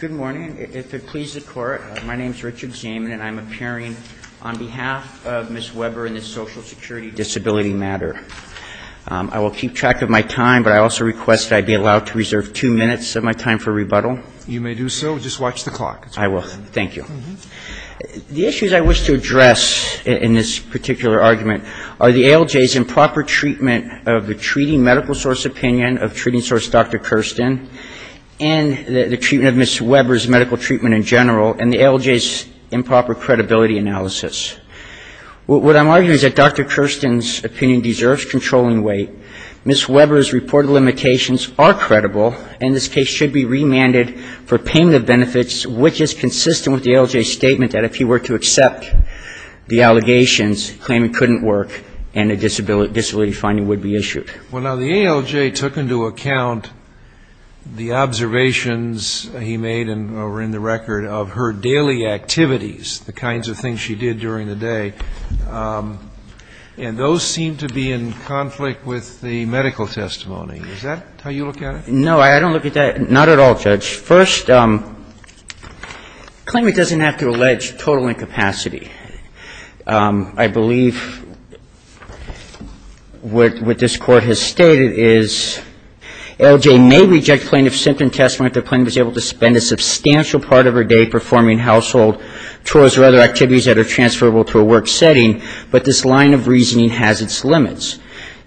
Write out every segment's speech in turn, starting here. Good morning. If it pleases the Court, my name is Richard Zaman, and I'm appearing on behalf of Ms. Weber in this Social Security Disability matter. I will keep track of my time, but I also request that I be allowed to reserve two minutes of my time for rebuttal. You may do so. Just watch the clock. I will. Thank you. The issues I wish to address in this particular argument are the ALJ's improper treatment of the treating medical source opinion of treating source Dr. Kirsten, and the treatment of Ms. Weber's medical treatment in general, and the ALJ's improper credibility analysis. What I'm arguing is that Dr. Kirsten's opinion deserves controlling weight. Ms. Weber's reported limitations are credible, and this case should be remanded for payment of benefits, which is consistent with the ALJ's statement that if he were to accept the allegations, claiming couldn't work and a disability finding would be issued. Well, now, the ALJ took into account the observations he made over in the record of her daily activities, the kinds of things she did during the day, and those seem to be in conflict with the medical testimony. Is that how you look at it? No, I don't look at that. Not at all, Judge. First, claimant doesn't have to allege total incapacity. I believe what this Court has stated is ALJ may reject plaintiff's symptom testimony if the plaintiff is able to spend a substantial part of her day performing household chores or other activities that are transferable to a work setting, but this line of reasoning has its limits.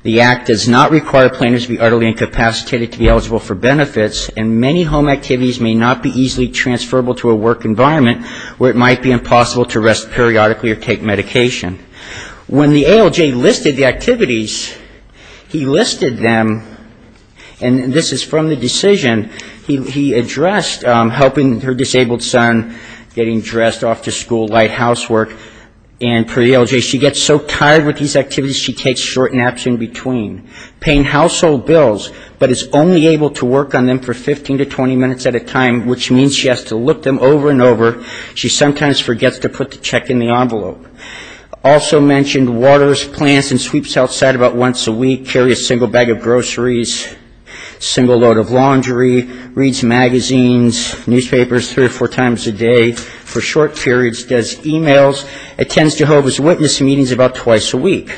The Act does not require plaintiffs to be utterly incapacitated to be eligible for benefits, and many home activities may not be easily transferable to a work environment where it might be impossible to rest periodically or take medication. When the ALJ listed the activities, he listed them, and this is from the decision he addressed, helping her disabled son getting dressed off to school, light housework, and per the ALJ, she gets so tired with these activities, she takes short naps in between, paying household bills, but is only able to work on them for 15 to 20 minutes at a time, which means she has to look them over and over. She sometimes forgets to put the check in the envelope. Also mentioned waters, plants, and sweeps outside about once a week, carries a single bag of groceries, single load of laundry, reads magazines, newspapers three or four times a day for short periods, does e-mails, attends Jehovah's Witness meetings about twice a week.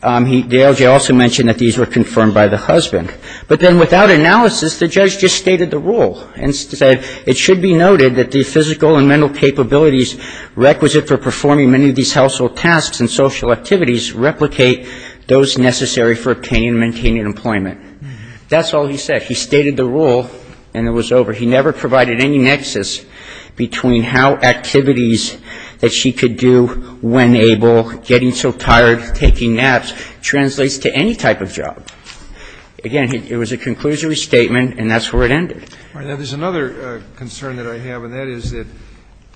The ALJ also mentioned that these were confirmed by the husband. But then without analysis, the judge just stated the rule and said it should be noted that the physical and mental capabilities requisite for performing many of these household tasks and social activities replicate those necessary for obtaining and maintaining employment. That's all he said. He stated the rule, and it was over. He never provided any nexus between how activities that she could do when able, getting so tired, taking naps, translates to any type of job. Again, it was a conclusory statement, and that's where it ended. Now, there's another concern that I have, and that is that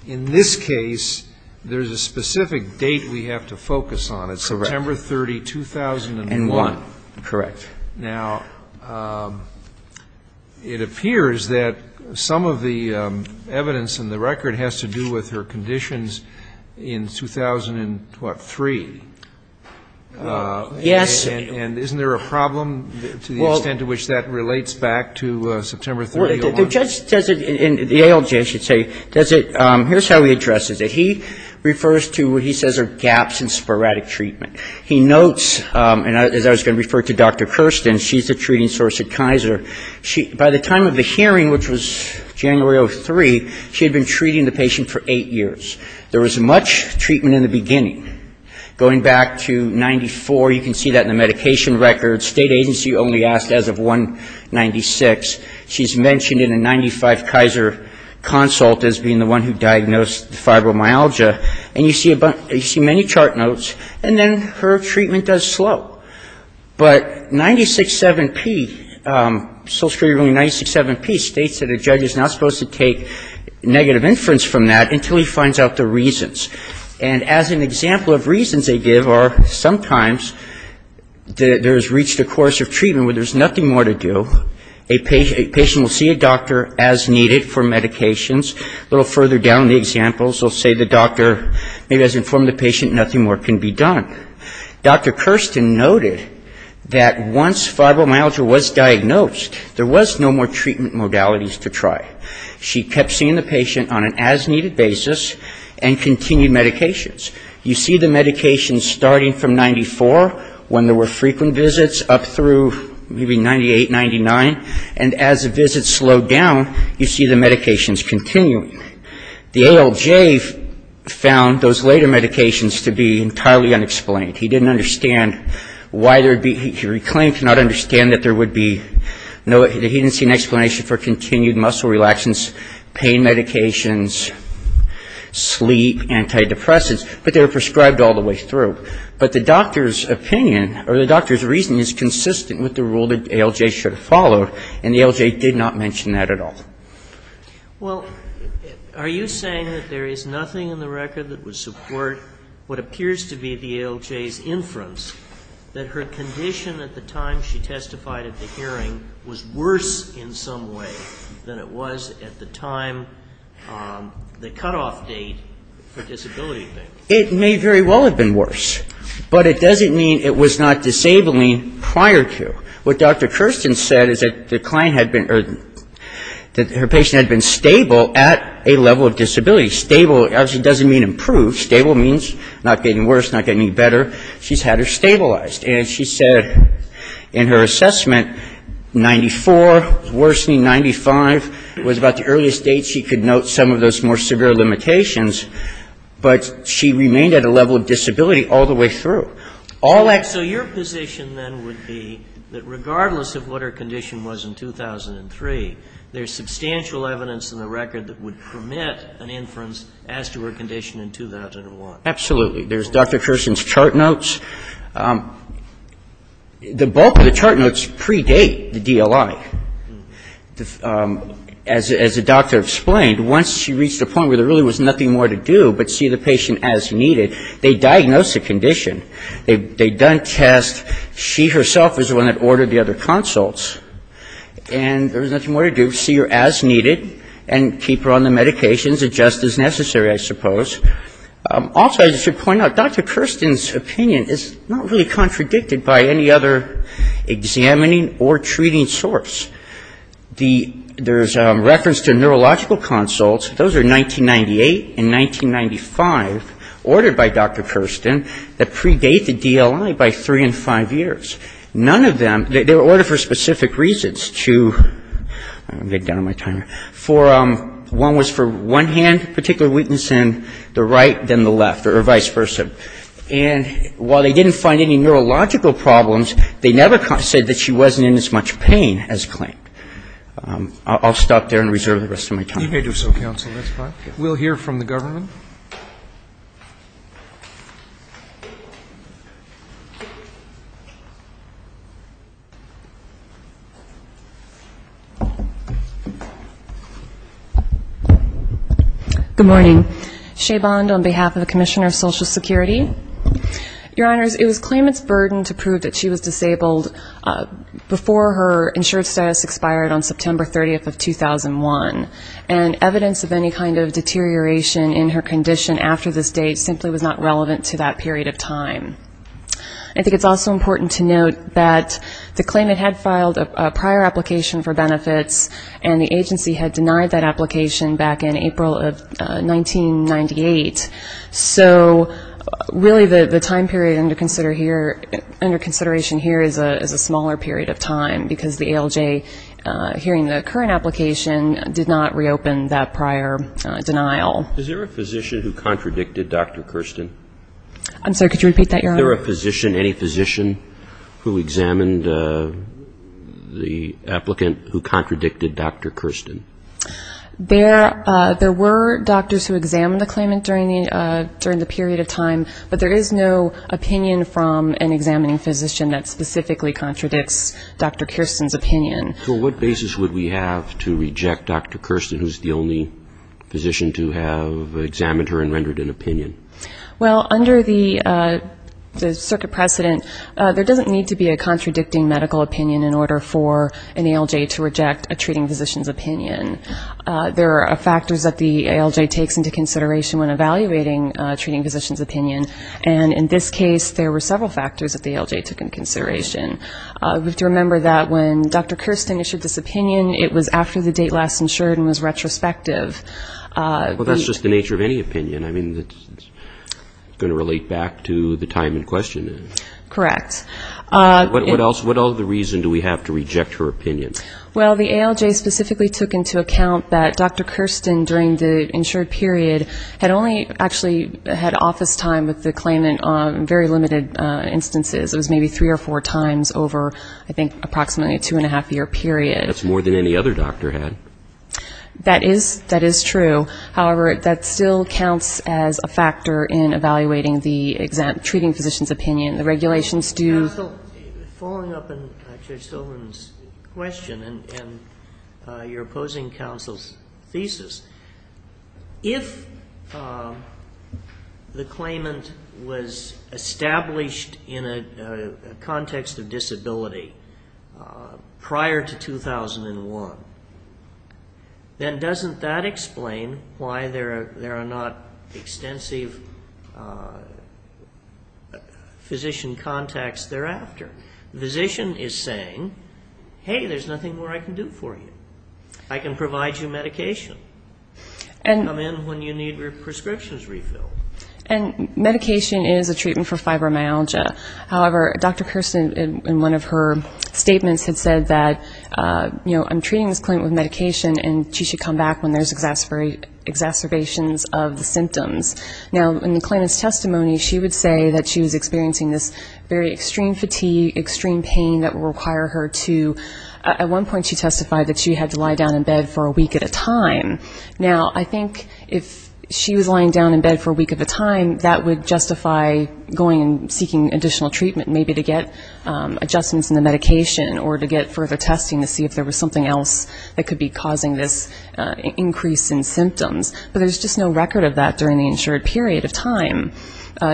in this case, there's a specific date we have to focus on. It's September 30, 2001. Correct. Now, it appears that some of the evidence in the record has to do with her conditions in 2000 and what, three? Yes. And isn't there a problem to the extent to which that relates back to September 30, 2001? The judge says it, and the ALJ, I should say, here's how he addresses it. He refers to what he says are gaps in sporadic treatment. He notes, and as I was going to refer to Dr. Kirsten, she's the treating source at Kaiser. By the time of the hearing, which was January of 2003, she had been treating the patient for eight years. There was much treatment in the beginning. Going back to 1994, you can see that in the medication record. State agency only asked as of 1996. She's mentioned in a 1995 Kaiser consult as being the one who diagnosed fibromyalgia. And you see many chart notes, and then her treatment does slow. But 96.7p, Social Security ruling 96.7p states that a judge is not supposed to take negative inference from that until he finds out the reasons. And as an example of reasons they give are sometimes there has reached a course of treatment where there's nothing more to do. A patient will see a doctor as needed for medications. A little further down the examples will say the doctor maybe hasn't informed the patient, nothing more can be done. Dr. Kirsten noted that once fibromyalgia was diagnosed, there was no more treatment modalities to try. She kept seeing the patient on an as-needed basis and continued medications. You see the medications starting from 94, when there were frequent visits, up through maybe 98, 99. And as the visits slowed down, you see the medications continuing. The ALJ found those later medications to be entirely unexplained. He didn't understand why there were continued muscle relaxants, pain medications, sleep, antidepressants, but they were prescribed all the way through. But the doctor's opinion or the doctor's reason is consistent with the rule that the ALJ should have followed, and the ALJ did not mention that at all. Well, are you saying that there is nothing in the record that would support what appears to be the ALJ's inference, that her condition at the time she testified at the hearing was worse in some way than it was at the time, the cutoff date for disability things? It may very well have been worse, but it doesn't mean it was not disabling prior to. What Dr. Kirsten said is that the client had been, or that her patient had been stable at a level of disability. Stable obviously doesn't mean improved. Stable means not getting worse, not getting any better. She's had her stabilized. And she said in her assessment, 94, worse than 95 was about the earliest date she could note some of those more severe limitations, but she remained at a level of disability all the way through. So your position then would be that regardless of what her condition was in 2003, there's substantial evidence in the record that would permit an inference as to her condition in 2001? Absolutely. There's Dr. Kirsten's chart notes. The bulk of the chart notes predate the DLI. As the doctor explained, once she reached a point where there really was nothing more to do but see the patient as needed, they diagnosed the condition. They done tests. She herself was the one that ordered the other consults. And there was nothing more to do but see her as needed and keep her on the medications just as necessary, I suppose. Also, I should point out, Dr. Kirsten's opinion is not really contradicted by any other examining or treating source. There's reference to neurological consults. Those are 1998 and 1995 ordered by Dr. Kirsten that predate the DLI by three and five years. None of them, they were ordered for specific reasons to, I'm getting down on my timer, for one was for one hand particular weakness in the right, then the left, or vice versa. And while they didn't find any neurological problems, they never said that she wasn't in as much pain as claimed. I'll stop there and reserve the rest of my time. You may do so, counsel. That's fine. We'll hear from the government. Good morning. Shea Bond on behalf of the Commissioner of Social Security. Your Honors, it was claimant's burden to prove that she was disabled before her insurance status expired on September 30th of 2001. And evidence of any kind of deterioration in her condition after this date simply was not relevant to that period of time. I think it's also important to note that the claimant had filed a prior application for benefits and the agency had denied that application back in April of 1998. So really the time period under consideration here is a smaller period of time because the ALJ, hearing the current application, did not reopen that prior denial. Is there a physician who contradicted Dr. Kirsten? I'm sorry, could you repeat that, Your Honor? Is there a physician, any physician who examined the applicant who contradicted Dr. Kirsten? There were doctors who examined the claimant during the period of time, but there is no opinion from an examining physician that specifically contradicts Dr. Kirsten's opinion. So what basis would we have to reject Dr. Kirsten, who's the only physician to have examined her and rendered an opinion? Well, under the circuit precedent, there doesn't need to be a contradicting medical opinion in order for an ALJ to reject a treating physician's opinion. There are factors that the ALJ takes into consideration when evaluating a treating physician's opinion, and in this case there were several factors that the ALJ took into consideration. We have to remember that when Dr. Kirsten issued this opinion, it was after the date last insured and was retrospective. Well, that's just the nature of any opinion. I mean, it's going to relate back to the time in question. Correct. What else, what other reason do we have to reject her opinion? Well, the ALJ specifically took into account that Dr. Kirsten, during the insured period, had only actually had office time with the claimant on very limited instances. It was maybe three or four times over, I think, approximately a two and a half year period. That's more than any other doctor had. That is true. However, that still counts as a factor in evaluating the treating physician's opinion. The regulations do Counsel, following up on Judge Silverman's question and your opposing counsel's thesis, if the claimant was established in a context of disability prior to 2001, then doesn't that explain why there are not extensive physician contacts thereafter? The physician is saying, hey, there's nothing more I can do for you. I can provide you medication. Come in when you need your prescriptions refilled. And medication is a treatment for fibromyalgia. However, Dr. Kirsten, in one of her statements, had said that, you know, I'm treating this claimant with medication and she should come back when there's exacerbations of the symptoms. Now, in the claimant's testimony, she would say that she was experiencing this very extreme fatigue, extreme pain that would require her to, at one point she testified that she had to lie down in bed for a week at a time. Now, I think if she was lying down in bed for a week at a time, that would justify going and seeking additional treatment, maybe to get adjustments in the medication or to get further testing to see if there was something else that could be causing this increase in symptoms. But there's just no record of that during the insured period of time.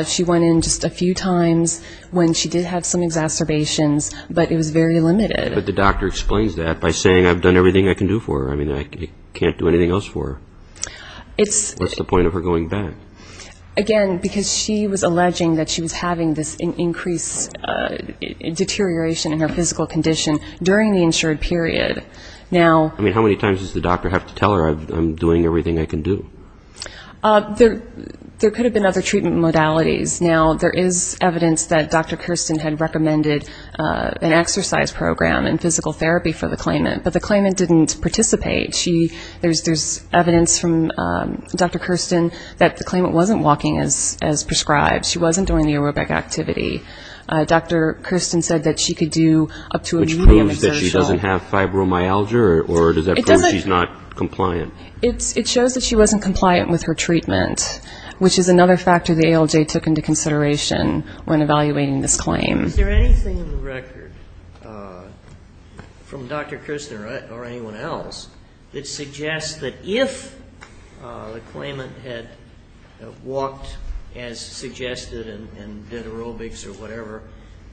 She went in just a few times when she did have some exacerbations, but it was very limited. But the doctor explains that by saying, I've done everything I can do for her. I mean, I can't do anything else for her. What's the point of her going back? Again, because she was alleging that she was having this increased deterioration in her physical condition during the insured period. Now... I mean, how many times does the doctor have to tell her, I'm doing everything I can do? There could have been other treatment modalities. Now, there is evidence that Dr. Kirsten had recommended an exercise program and physical therapy for the claimant, but the claimant didn't participate. There's evidence from Dr. Kirsten that the claimant wasn't walking as prescribed. She wasn't doing the aerobic activity. Dr. Kirsten said that she could do up to a medium exertion. So does that show that she doesn't have fibromyalgia, or does that show that she's not compliant? It shows that she wasn't compliant with her treatment, which is another factor the ALJ took into consideration when evaluating this claim. Is there anything in the record from Dr. Kirsten or anyone else that suggests that if the claimant had walked as suggested and did aerobics or whatever,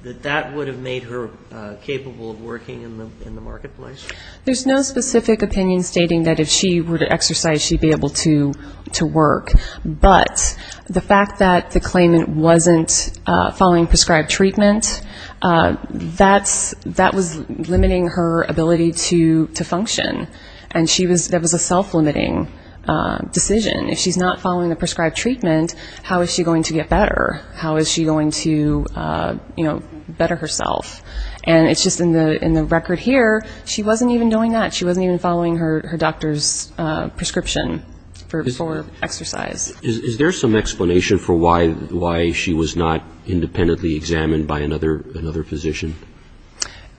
that that would have made her capable of working in the marketplace? There's no specific opinion stating that if she were to exercise, she'd be able to work. But the fact that the claimant wasn't following prescribed treatment, that was limiting her ability to function. And that was a self-limiting decision. If she's not following the prescribed treatment, how is she going to get better? How is she going to, you know, better herself? And it's just in the record here, she wasn't even doing that. She wasn't even following her doctor's prescription for exercise. Is there some explanation for why she was not independently examined by another physician?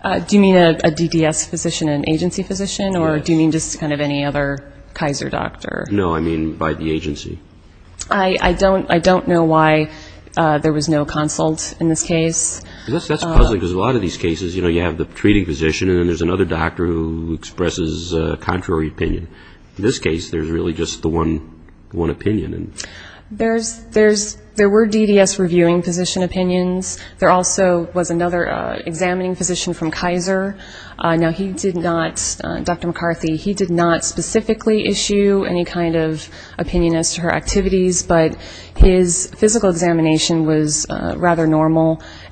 Do you mean a DDS physician, an agency physician, or do you mean just kind of any other Kaiser doctor? No, I mean by the agency. I don't know why there was no consult in this case. That's puzzling because a lot of these cases, you know, you have the treating physician and then there's another doctor who expresses a contrary opinion. In this case, there's really just the one opinion. There were DDS reviewing physician opinions. There also was another examining physician from Kaiser. Now he did not, Dr. McCarthy, he did not specifically issue any kind of treatment.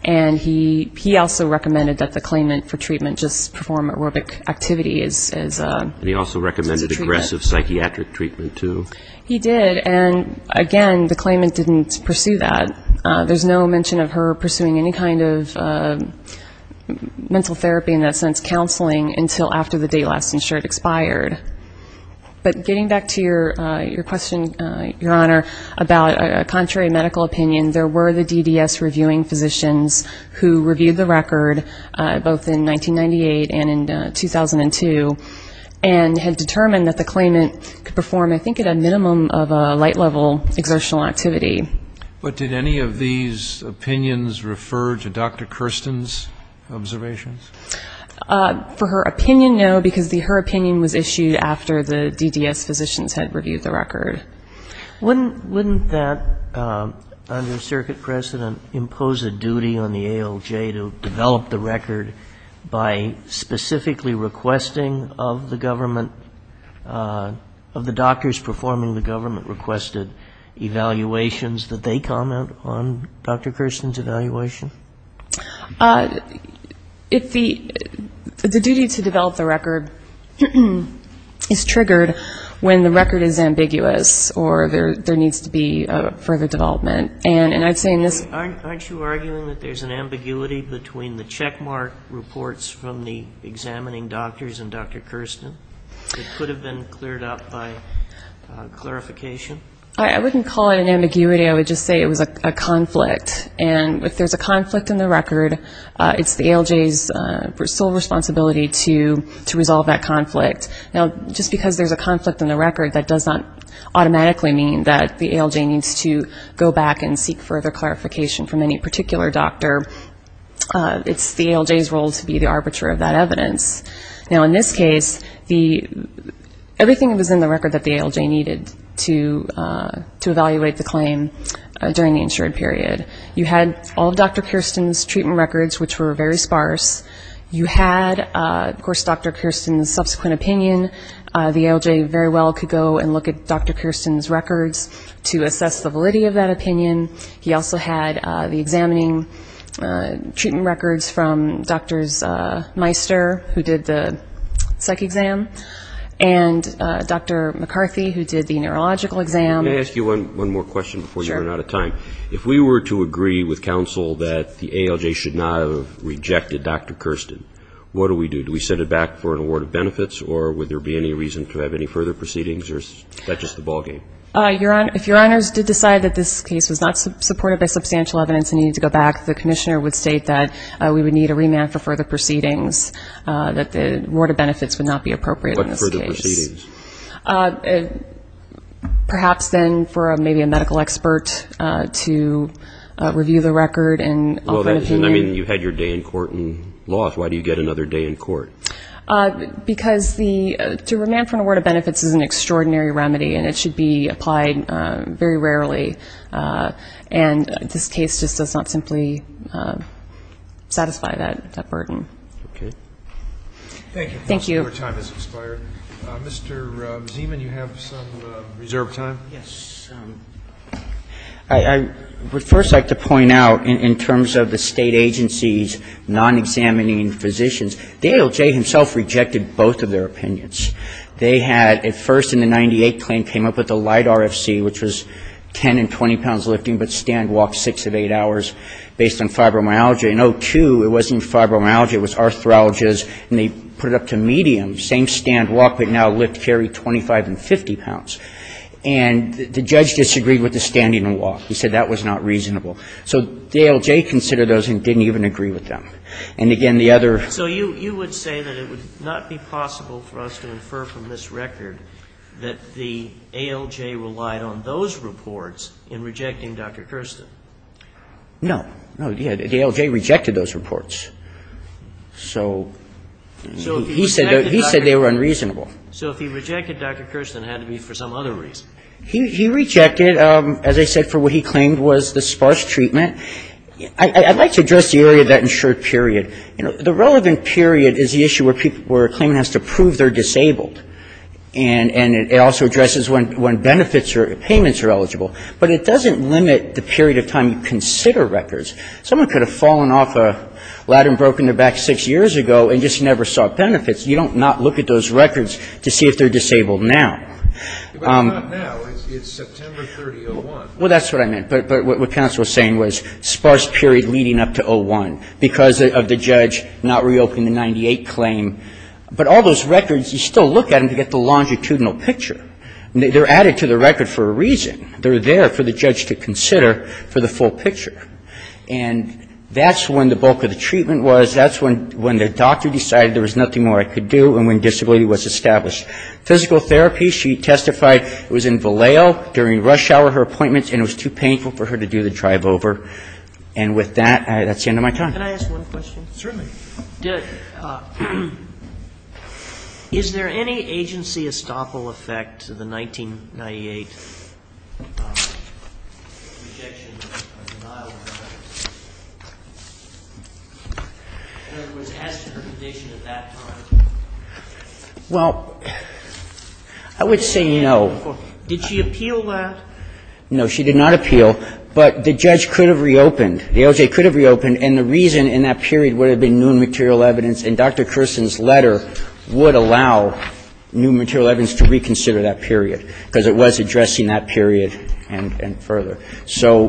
And he also recommended that the claimant for treatment just perform aerobic activity as a treatment. And he also recommended aggressive psychiatric treatment, too? He did. And again, the claimant didn't pursue that. There's no mention of her pursuing any kind of mental therapy, in that sense, counseling, until after the day last insured expired. But getting back to your question, Your Honor, about a contrary medical opinion, there were the DDS reviewing physicians who reviewed the record, both in 1998 and in 2002, and had determined that the claimant could perform, I think, at a minimum of a light-level exertional activity. But did any of these opinions refer to Dr. Kirsten's observations? For her opinion, no, because her opinion was issued after the DDS physicians had reviewed the record. Wouldn't that, under circuit precedent, impose a duty on the ALJ to develop the record by specifically requesting of the government, of the doctors performing the government-requested evaluations that they comment on Dr. Kirsten's evaluation? If the duty to develop the record is triggered when the record is ambiguous or there needs to be further development. And I'd say in this ---- Aren't you arguing that there's an ambiguity between the checkmark reports from the examining doctors and Dr. Kirsten that could have been cleared up by clarification? I wouldn't call it an ambiguity. I would just say it was a conflict. And if there's a conflict, in the record, it's the ALJ's sole responsibility to resolve that conflict. Now, just because there's a conflict in the record, that does not automatically mean that the ALJ needs to go back and seek further clarification from any particular doctor. It's the ALJ's role to be the arbiter of that evidence. Now in this case, everything that was in the record that the ALJ needed to evaluate the Kirsten's treatment records, which were very sparse, you had, of course, Dr. Kirsten's subsequent opinion. The ALJ very well could go and look at Dr. Kirsten's records to assess the validity of that opinion. He also had the examining treatment records from Dr. Meister, who did the psych exam, and Dr. McCarthy, who did the neurological exam. Can I ask you one more question before you run out of time? If we were to agree with counsel that the ALJ should not have rejected Dr. Kirsten, what do we do? Do we send it back for an award of benefits, or would there be any reason to have any further proceedings, or is that just the ballgame? If your honors did decide that this case was not supported by substantial evidence and needed to go back, the commissioner would state that we would need a remand for further proceedings, that the award of benefits would not be appropriate in this case. But further proceedings. Perhaps then for maybe a medical expert to review the record and offer an opinion. You had your day in court and lost. Why do you get another day in court? Because to remand for an award of benefits is an extraordinary remedy, and it should be applied very rarely, and this case just does not simply satisfy that burden. Thank you, counselor. Your time has expired. Mr. Zeman, you have some reserved time. Yes. I would first like to point out, in terms of the state agency's non-examining physicians, the ALJ himself rejected both of their opinions. They had, at first in the 98 claim, came up with a light RFC, which was 10 and 20 pounds lifting, but stand walked six of eight hours, based on fibromyalgia. In 02, it wasn't fibromyalgia, it was arthralgias, and they put it up to medium. Same stand walk, but now lift, carry 25 and 50 pounds. And the judge disagreed with the standing and walk. He said that was not reasonable. So the ALJ considered those and didn't even agree with them. And again, the other So you would say that it would not be possible for us to infer from this record that the ALJ relied on those reports in rejecting Dr. Kirsten? No. No, the ALJ rejected those reports. So he said they were unreasonable. So if he rejected Dr. Kirsten, it had to be for some other reason. He rejected, as I said, for what he claimed was the sparse treatment. I'd like to address the area of that insured period. The relevant period is the issue where a claimant has to prove they're disabled. And it also addresses when benefits or payments are eligible. But it doesn't limit the period of time you consider records. Someone could have fallen off a ladder and broken their back six years ago and just never saw benefits. You don't not look at those records to see if they're disabled now. But not now. It's September 30, 01. Well, that's what I meant. But what counsel was saying was sparse period leading up to 01 because of the judge not reopening the 98 claim. But all those records, you still look at them to get the longitudinal picture. They're added to the record for a reason. They're there for the judge to consider for the full picture. And that's when the bulk of the treatment was. That's when the doctor decided there was nothing more I could do and when disability was established. Physical therapy, she testified it was in Vallejo during rush hour, her appointment, and it was too painful for her to do the drive over. And with that, that's the end of my time. Can I ask one question? Certainly. Is there any agency estoppel effect to the 1998 rejection of denial of service? In other words, as to her condition at that time? Well, I would say no. Did she appeal that? No, she did not appeal. But the judge could have reopened. The OJ could have reopened. And the reason in that period would have been new material evidence. And Dr. Kersen's letter would allow new material evidence to reconsider that period, because it was addressing that period and further. So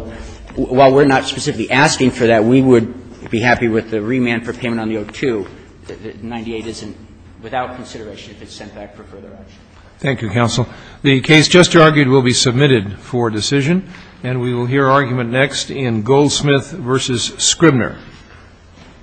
while we're not specifically asking for that, we would be happy with the remand for payment on the 02, that 98 isn't without consideration if it's sent back for further action. Thank you, counsel. The case just argued will be submitted for decision. And we will hear argument next in Goldsmith versus Scribner.